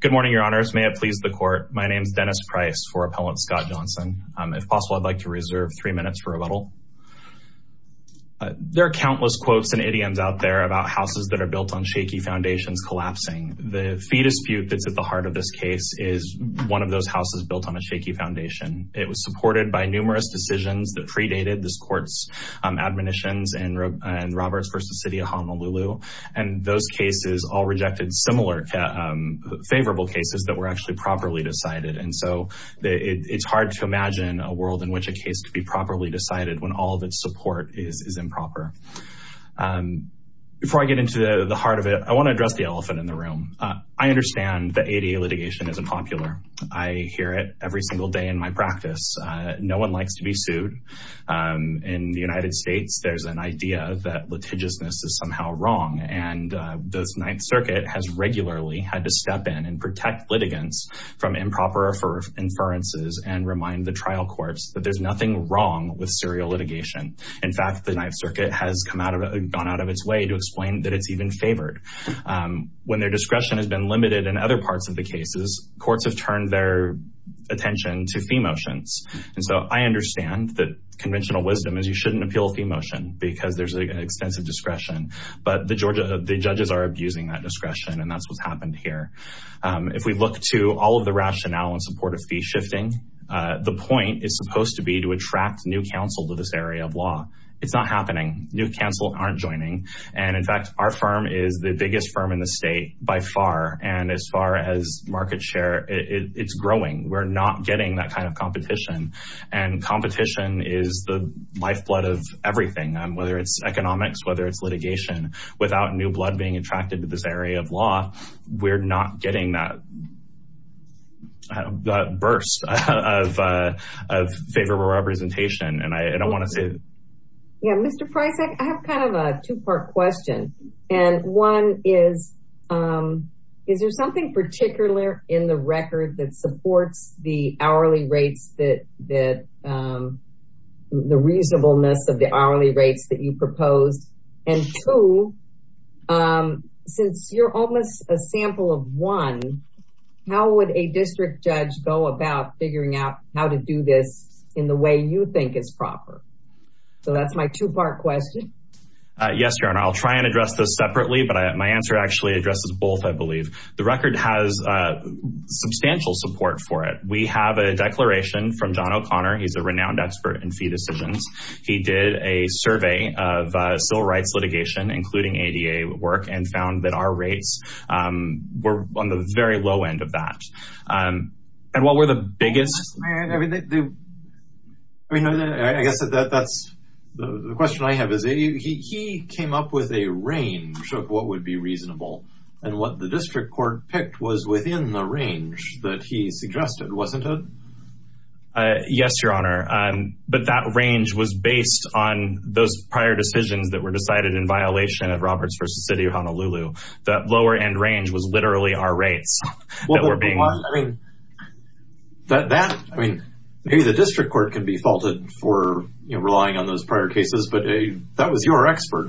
Good morning, Your Honors. May it please the Court. My name is Dennis Price for Appellant Scott Johnson. If possible, I'd like to reserve three minutes for rebuttal. There are countless quotes and idioms out there about houses that are built on shaky foundations collapsing. The fee dispute that's at the heart of this case is one of those houses built on a shaky foundation. It was supported by numerous decisions that predated this Court's admonitions in Roberts v. City of Honolulu, and those cases all rejected similar favorable cases that were actually properly decided. And so it's hard to imagine a world in which a case could be properly decided when all of its support is improper. Before I get into the heart of it, I want to address the elephant in the room. I understand that ADA litigation isn't popular. I hear it every single day in my practice. No one likes to be sued. In the United States, there's an idea that litigiousness is somehow wrong, and the Ninth Circuit has regularly had to step in and protect litigants from improper inferences and remind the trial courts that there's nothing wrong with serial litigation. In fact, the Ninth Circuit has gone out of its way to explain that it's even favored. When their discretion has been limited in other parts of the cases, courts have turned their attention to fee motions. And so I understand that conventional wisdom is you shouldn't The judges are abusing that discretion, and that's what's happened here. If we look to all of the rationale in support of fee shifting, the point is supposed to be to attract new counsel to this area of law. It's not happening. New counsel aren't joining. And in fact, our firm is the biggest firm in the state by far. And as far as market share, it's growing. We're not getting that kind of competition. And competition is the lifeblood of everything, whether it's economics, whether it's litigation. Without new blood being attracted to this area of law, we're not getting that burst of favorable representation. And I don't want to say... Yeah, Mr. Preissach, I have kind of a two part question. And one is, is there something particular in the record that supports the hourly rates that, the reasonableness of hourly rates that you proposed? And two, since you're almost a sample of one, how would a district judge go about figuring out how to do this in the way you think is proper? So that's my two part question. Yes, Your Honor, I'll try and address this separately. But my answer actually addresses both, I believe. The record has substantial support for it. We have a declaration from John O'Connor. He's a renowned expert in fee decisions. He did a survey of civil rights litigation, including ADA work, and found that our rates were on the very low end of that. And while we're the biggest... I guess that's the question I have is, he came up with a range of what would be reasonable. And what the district court picked was within the range that he suggested, wasn't it? Yes, Your Honor. But that range was based on those prior decisions that were decided in violation of Roberts v. City of Honolulu. That lower end range was literally our rates. I mean, maybe the district court can be faulted for relying on those prior cases, but that was your expert.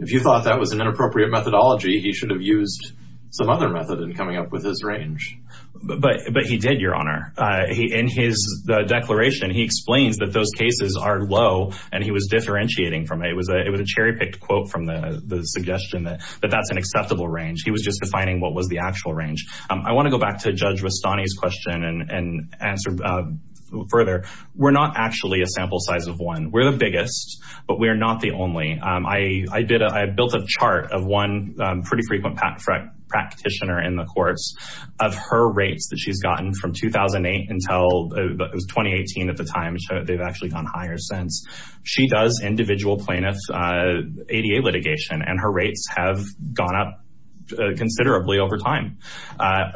If you thought that was an inappropriate methodology, he should have used some other method in coming up with his range. But he did, Your Honor. In his declaration, he explains that those cases are low, and he was differentiating from it. It was a cherry-picked quote from the suggestion that that's an acceptable range. He was just defining what was the actual range. I want to go back to Judge Rustani's question and answer further. We're not actually a sample size of one. We're the biggest, but we're not the only. I built a chart of one pretty frequent practitioner in the courts. Of her rates that she's gotten from 2008 until 2018 at the time, they've actually gone higher since. She does individual plaintiffs' ADA litigation, and her rates have gone up considerably over time.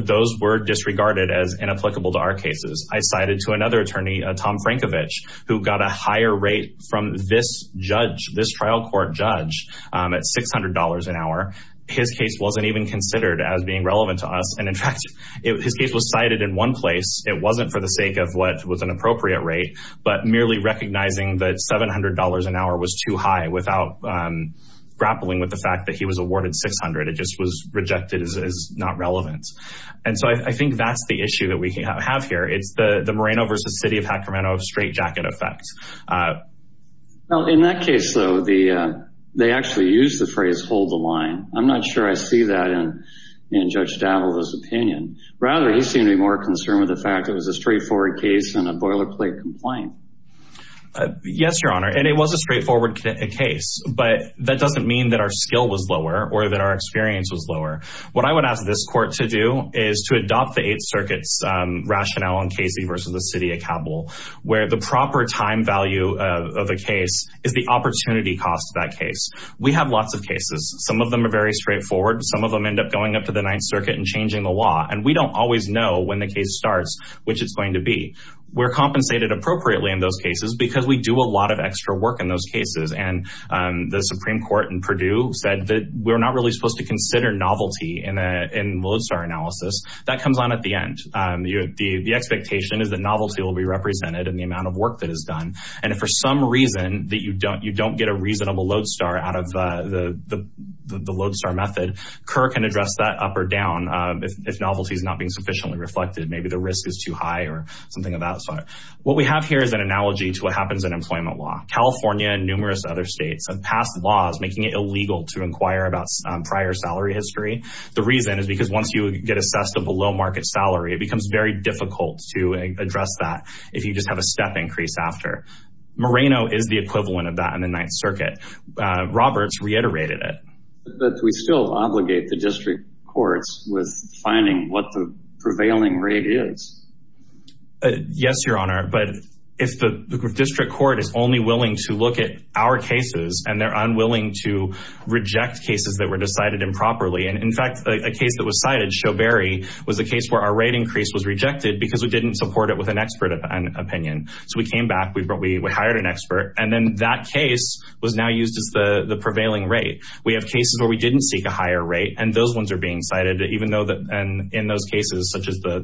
Those were disregarded as inapplicable to our cases. I cited to another attorney, Tom Frankovich, who got a higher rate from this trial court judge at $600 an hour. His case wasn't even considered as being relevant to us. In fact, his case was cited in one place. It wasn't for the sake of what was an appropriate rate, but merely recognizing that $700 an hour was too high without grappling with the fact that he was awarded $600. It just was rejected as not relevant. I think that's the issue that we have. In that case, though, they actually used the phrase, hold the line. I'm not sure I see that in Judge Davold's opinion. Rather, he seemed to be more concerned with the fact that it was a straightforward case and a boilerplate complaint. Yes, Your Honor. It was a straightforward case, but that doesn't mean that our skill was lower or that our experience was lower. What I would ask this court to do is to adopt the Eighth Circuit's rationale on Casey versus the city of Cabell, where the proper time value of a case is the opportunity cost of that case. We have lots of cases. Some of them are very straightforward. Some of them end up going up to the Ninth Circuit and changing the law. We don't always know when the case starts, which it's going to be. We're compensated appropriately in those cases because we do a lot of extra work in those cases. The Supreme Court in Purdue said that we're not really supposed to consider novelty in lodestar analysis. That comes on at the end. The expectation is that novelty will be represented in the amount of work that is done. If for some reason that you don't get a reasonable lodestar out of the lodestar method, Kerr can address that up or down if novelty is not being sufficiently reflected. Maybe the risk is too high or something of that sort. What we have here is an analogy to what happens in employment law. California and numerous other past laws make it illegal to inquire about prior salary history. The reason is because once you get assessed a below market salary, it becomes very difficult to address that if you just have a step increase after. Moreno is the equivalent of that in the Ninth Circuit. Roberts reiterated it. We still obligate the district courts with finding what the prevailing rate is. Yes, Your Honor, but if the district court is only willing to look at our cases and they're unwilling to reject cases that were decided improperly. In fact, a case that was cited, Showberry, was a case where our rate increase was rejected because we didn't support it with an expert opinion. We came back, we hired an expert, and then that case was now used as the prevailing rate. We have cases where we didn't seek a higher rate, and those ones are being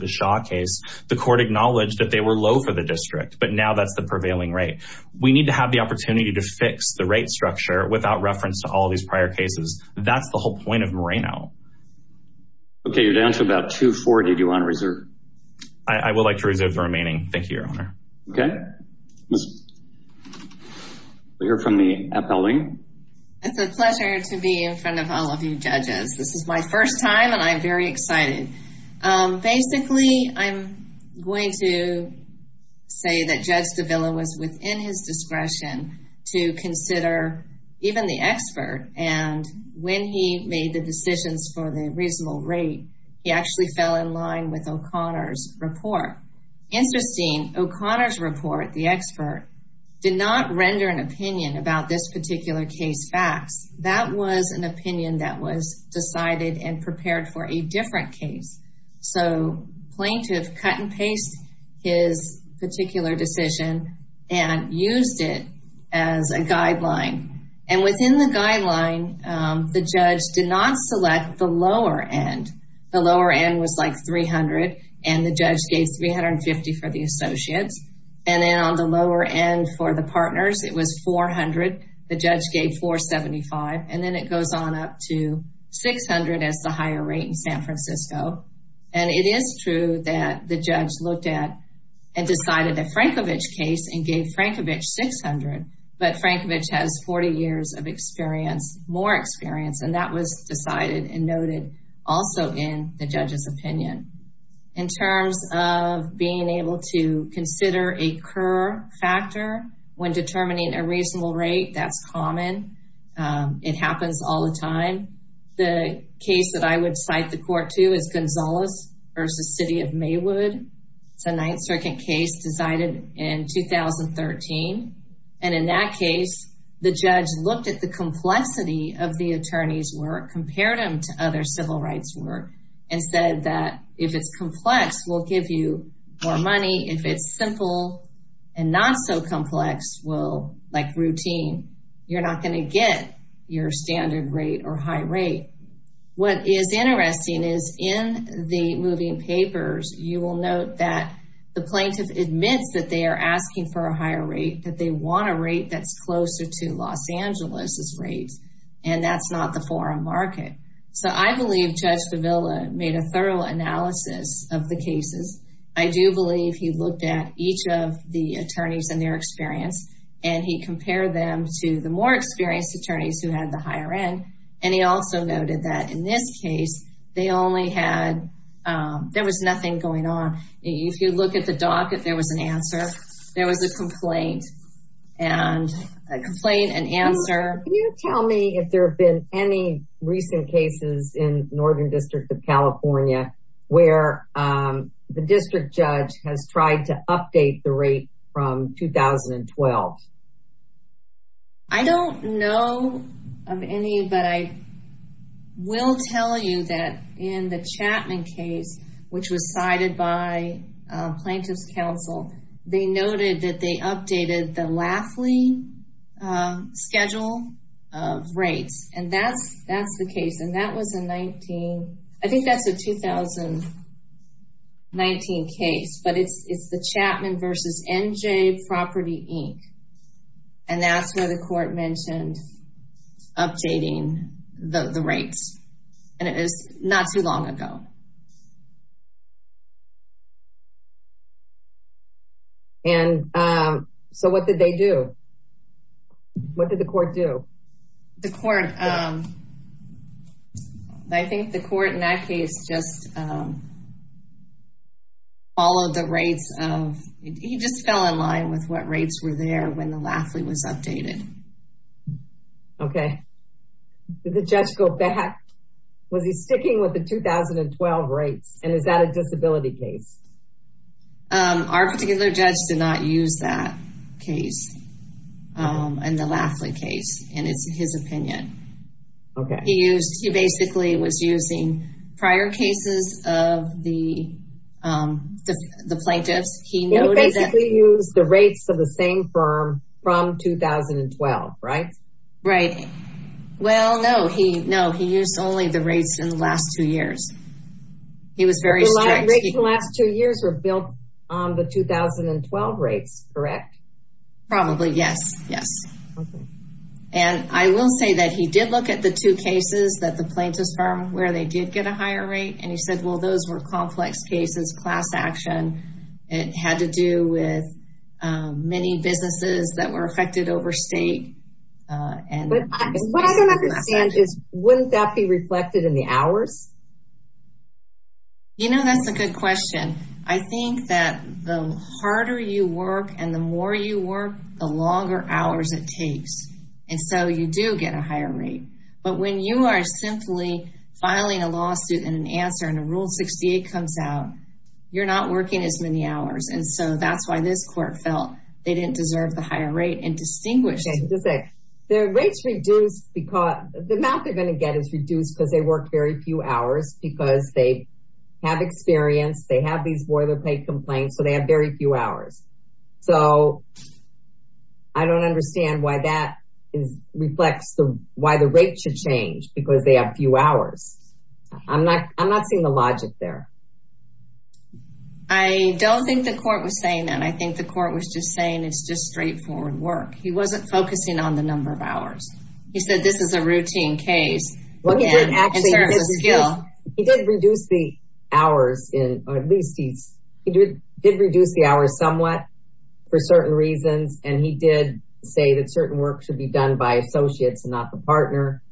the Shaw case. The court acknowledged that they were low for the district, but now that's the prevailing rate. We need to have the opportunity to fix the rate structure without reference to all these prior cases. That's the whole point of Moreno. Okay, you're down to about 240. Do you want to reserve? I would like to reserve the remaining. Thank you, Your Honor. Okay. We'll hear from the appellate. It's a pleasure to be in front of all of you judges. This is my appellate. Basically, I'm going to say that Judge D'Avilla was within his discretion to consider even the expert, and when he made the decisions for the reasonable rate, he actually fell in line with O'Connor's report. Interesting, O'Connor's report, the expert, did not render an opinion about this particular case facts. That was an opinion that was decided and prepared for a different case. Plaintiff cut and paste his particular decision and used it as a guideline. Within the guideline, the judge did not select the lower end. The lower end was like 300, and the judge gave 350 for the associates. Then on the lower end for the partners, it was the higher rate in San Francisco. It is true that the judge looked at and decided the Frankovich case and gave Frankovich 600, but Frankovich has 40 years of experience, more experience, and that was decided and noted also in the judge's opinion. In terms of being able to consider a reasonable rate, that's common. It happens all the time. The case that I would cite the court to is Gonzalez v. City of Maywood. It's a Ninth Circuit case decided in 2013. In that case, the judge looked at the complexity of the attorney's work, compared them to other civil rights work, and said that if it's complex, we'll give you more money. If it's simple and not so complex, like routine, you're not going to get your standard rate or high rate. What is interesting is in the moving papers, you will note that the plaintiff admits that they are asking for a higher rate, that they want a rate that's closer to Los Angeles's rates, and that's not the foreign market. I believe Judge Fevella made a thorough analysis of the cases. I do believe he looked at each of the attorneys and their experience, and he compared them to the more experienced attorneys who had the higher end. He also noted that in this case, there was nothing going on. If you look at the doc, if there was an answer, there was a complaint. A complaint, an answer. Can you tell me if there have been any recent cases in Northern District of California where the district judge has tried to update the rate from 2012? I don't know of any, but I will tell you that in the Chapman case, which was cited by Plaintiff's Counsel, they noted that they updated the Lafley schedule of rates, and that's the case, and that was a 19, I think that's a 2019 case, but it's the Chapman versus NJ Property Inc., and that's where the court mentioned updating the rates, and it was not long ago. And so what did they do? What did the court do? The court, I think the court in that case just followed the rates of, he just fell in line with what rates were there when the Lafley was updated. Okay. Did the judge go back? Was he sticking with the 2012 rates, and is that a disability case? Our particular judge did not use that case, and the Lafley case, and it's his opinion. Okay. He used, he basically was using prior cases of the plaintiffs. He basically used the rates of the same firm from 2012, right? Right. Well, no, he used only the rates in the last two years. He was very strict. The last two years were built on the 2012 rates, correct? Probably, yes, yes. And I will say that he did look at the two cases that the plaintiff's firm, where they did get a higher rate, and he said, well, those were complex cases, class action, it had to do with many businesses that were affected over state. And what I don't understand is, wouldn't that be reflected in the hours? You know, that's a good question. I think that the harder you work, and the more you work, the longer hours it takes. And so you do get a higher rate. But when you are simply filing a many hours, and so that's why this court felt they didn't deserve the higher rate and distinguished. The rates reduced because the amount they're going to get is reduced because they work very few hours, because they have experience, they have these boilerplate complaints, so they have very few hours. So I don't understand why that is reflects the why the rate should change because they have few hours. I'm not I'm not seeing the logic there. I don't think the court was saying that I think the court was just saying it's just straightforward work. He wasn't focusing on the number of hours. He said this is a routine case. He did reduce the hours in at least he did reduce the hours somewhat for certain reasons. And he did say that certain work should be done by associates and not the partner.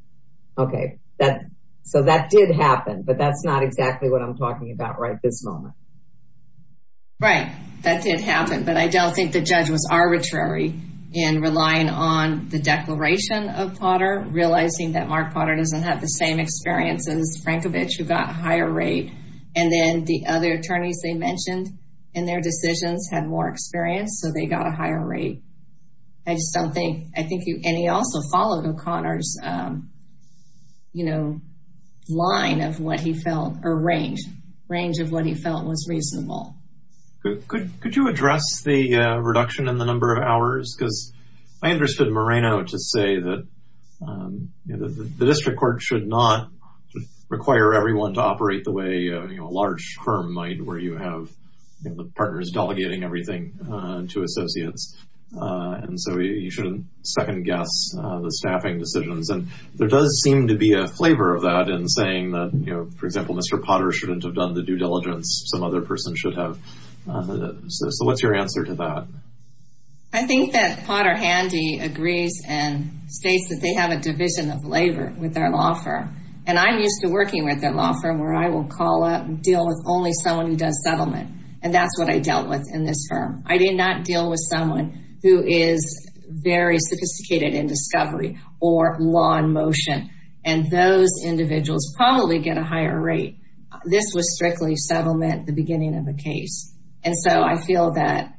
Okay, that so that did happen. But that's not exactly what I'm talking about right this moment. Right, that did happen. But I don't think the judge was arbitrary in relying on the declaration of Potter realizing that Mark Potter doesn't have the same experience as Frankovich who got higher rate. And then the other attorneys they mentioned, in their decisions had more experience. So they got a higher rate. I just don't think I think you any also followed O'Connor's, you know, line of what he felt or range range of what he felt was reasonable. Could you address the reduction in the number of hours because I understood Moreno to say that the district court should not require everyone to operate the way you know, a large firm might where you have the partners delegating everything to associates. And so you shouldn't second guess the staffing decisions. And there does seem to be a flavor of that in saying that, you know, for example, Mr. Potter shouldn't have done the due diligence some other person should have. So what's your answer to that? I think that Potter Handy agrees and states that they have a division of labor with their law firm. And I'm used to working with their law firm where I will call up and deal with only someone who does settlement. And that's what I dealt with in this firm, I did not deal with someone who is very sophisticated in discovery, or law in motion, and those individuals probably get a higher rate. This was strictly settlement, the beginning of the case. And so I feel that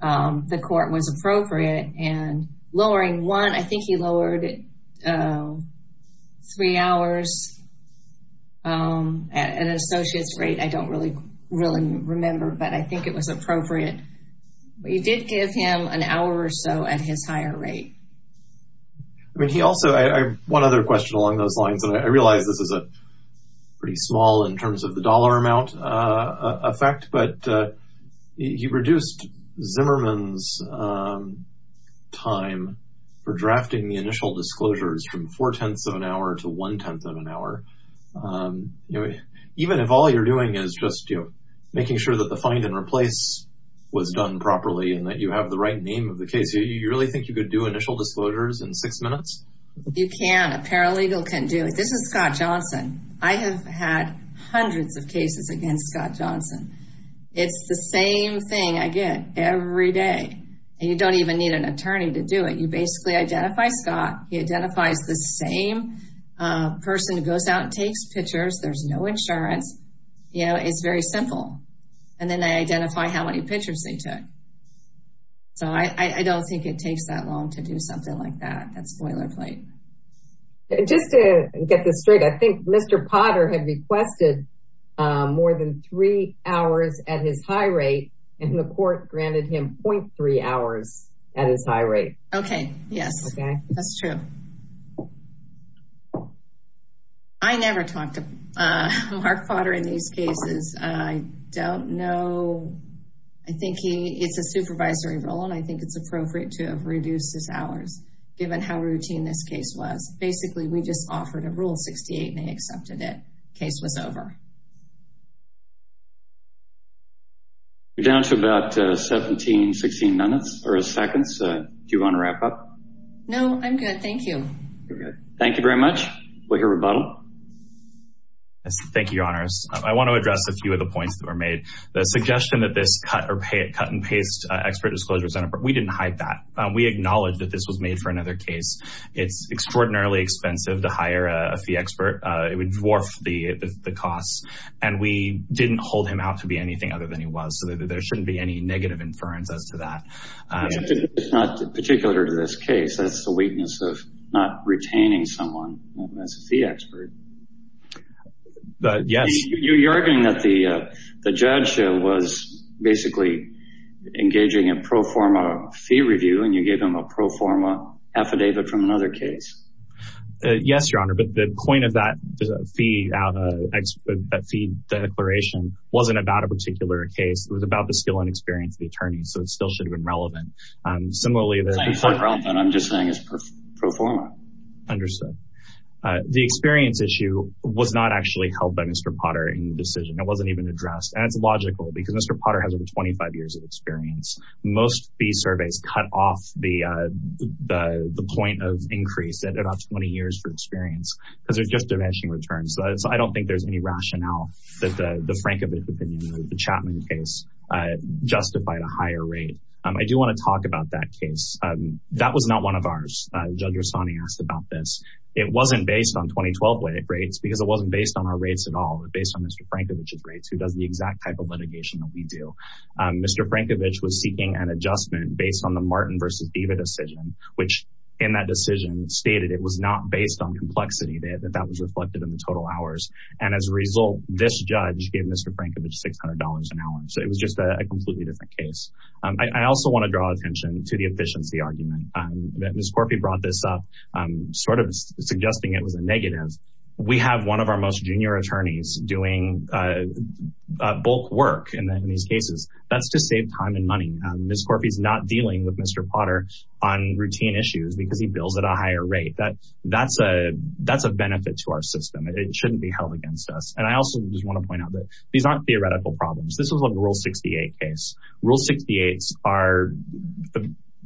the court was appropriate and lowering one, I think he lowered three hours. And associates rate, I don't really, really remember. But I think it was appropriate. We did give him an hour or so at his higher rate. I mean, he also, one other question along those lines, and I realize this is a pretty small in terms of the dollar amount effect, but he reduced Zimmerman's time for drafting the initial disclosures from four-tenths of an hour to one-tenth of an hour. You know, even if all you're doing is just, you know, making sure that the find and replace was done properly and that you have the right name of the case, you really think you could do initial disclosures in six minutes? You can, a paralegal can do it. This is Scott Johnson. I have had hundreds of cases against Scott Johnson. It's the same thing I get every day. And you don't even need an attorney to do it. You basically identify Scott, he identifies the same person who goes out and takes pictures. There's no insurance. You know, it's very simple. And then they identify how many pictures they took. So I don't think it takes that long to do something like that. That's boilerplate. Just to get this straight, I think Mr. Potter had requested more than three hours at his high rate, and the court granted him 0.3 hours at his high rate. Okay. Yes, that's true. I never talked to Mark Potter in these cases. I don't know. I think he, it's a supervisory role, and I think it's appropriate to have reduced his hours given how routine this case was. Basically, we just offered a rule 68 and they accepted it. Case was over. We're down to about 17, 16 minutes or seconds. Do you want to wrap up? No, I'm good. Thank you. Thank you very much. We'll hear rebuttal. Thank you, your honors. I want to address a few of the points that were made. The suggestion that this cut and paste expert disclosure center, we didn't hide that. We acknowledge that this was made for another case. It's extraordinarily expensive to hire a fee expert. It would dwarf the costs, and we didn't hold him out to be anything other than he was, so there shouldn't be any negative inference as to that. It's not particular to this case. That's the weakness of not retaining someone as a fee expert. Yes. You're arguing that the judge was basically engaging in pro forma fee review, and you gave him a pro forma affidavit from another case. Yes, your honor, but the point of that fee declaration wasn't about a particular case. It was about the skill and experience of the attorney, so it still should have been relevant. Similarly, I'm just saying it's pro forma. Understood. The experience issue was not actually held by Mr. Potter in the decision. It wasn't even addressed, and it's logical because Mr. Potter has over 25 years of experience. Most fee surveys cut off the point of increase about 20 years for experience because there's just diminishing returns, so I don't think there's any rationale that the Frankovich opinion or the Chapman case justified a higher rate. I do want to talk about that case. That was not one of ours. Judge Rossani asked about this. It wasn't based on 2012 rates because it wasn't based on our rates at all. It was based on Mr. Frankovich's rates, who does the exact type of litigation that we do. Mr. Frankovich was seeking an adjustment based on the Martin v. Diva decision, which in that decision stated it was not based on complexity, that that was reflected in the total hours, and as a result, this judge gave Mr. Frankovich $600 an hour, so it was just a completely different case. I also want to draw attention to the efficiency argument that Ms. Corpi brought this up, sort of suggesting it was a negative. We have one of our most junior attorneys doing bulk work in these cases. That's to save time and money. Ms. Corpi is not dealing with Mr. Potter on routine issues because he bills at a higher rate. That's a benefit to our system. It shouldn't be held against us, and I also just want to point out that these aren't theoretical problems. This was a Rule 68 case. Rule 68s are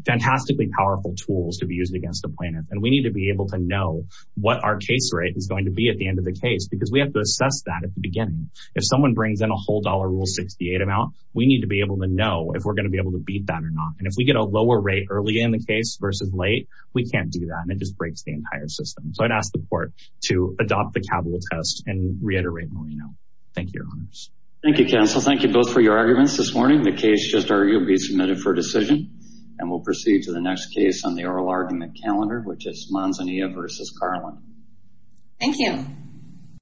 fantastically powerful tools to be used against a plaintiff, and we need to be able to know what our case rate is going to be at the end of the case because we have to assess that at the beginning. If someone brings in a whole dollar Rule 68 amount, we need to be able to know if we're going to be able to beat that or not, and if we get a lower rate early in the case versus late, we can't do that, and it just breaks the entire system, so I'd ask the court to adopt the capital test and reiterate what we know. Thank you, Your Honors. Thank you, counsel. Thank you both for your arguments this morning. The case just argued will be submitted for decision, and we'll proceed to the next case on the oral argument calendar, which is Manzanilla versus Carlin. Thank you.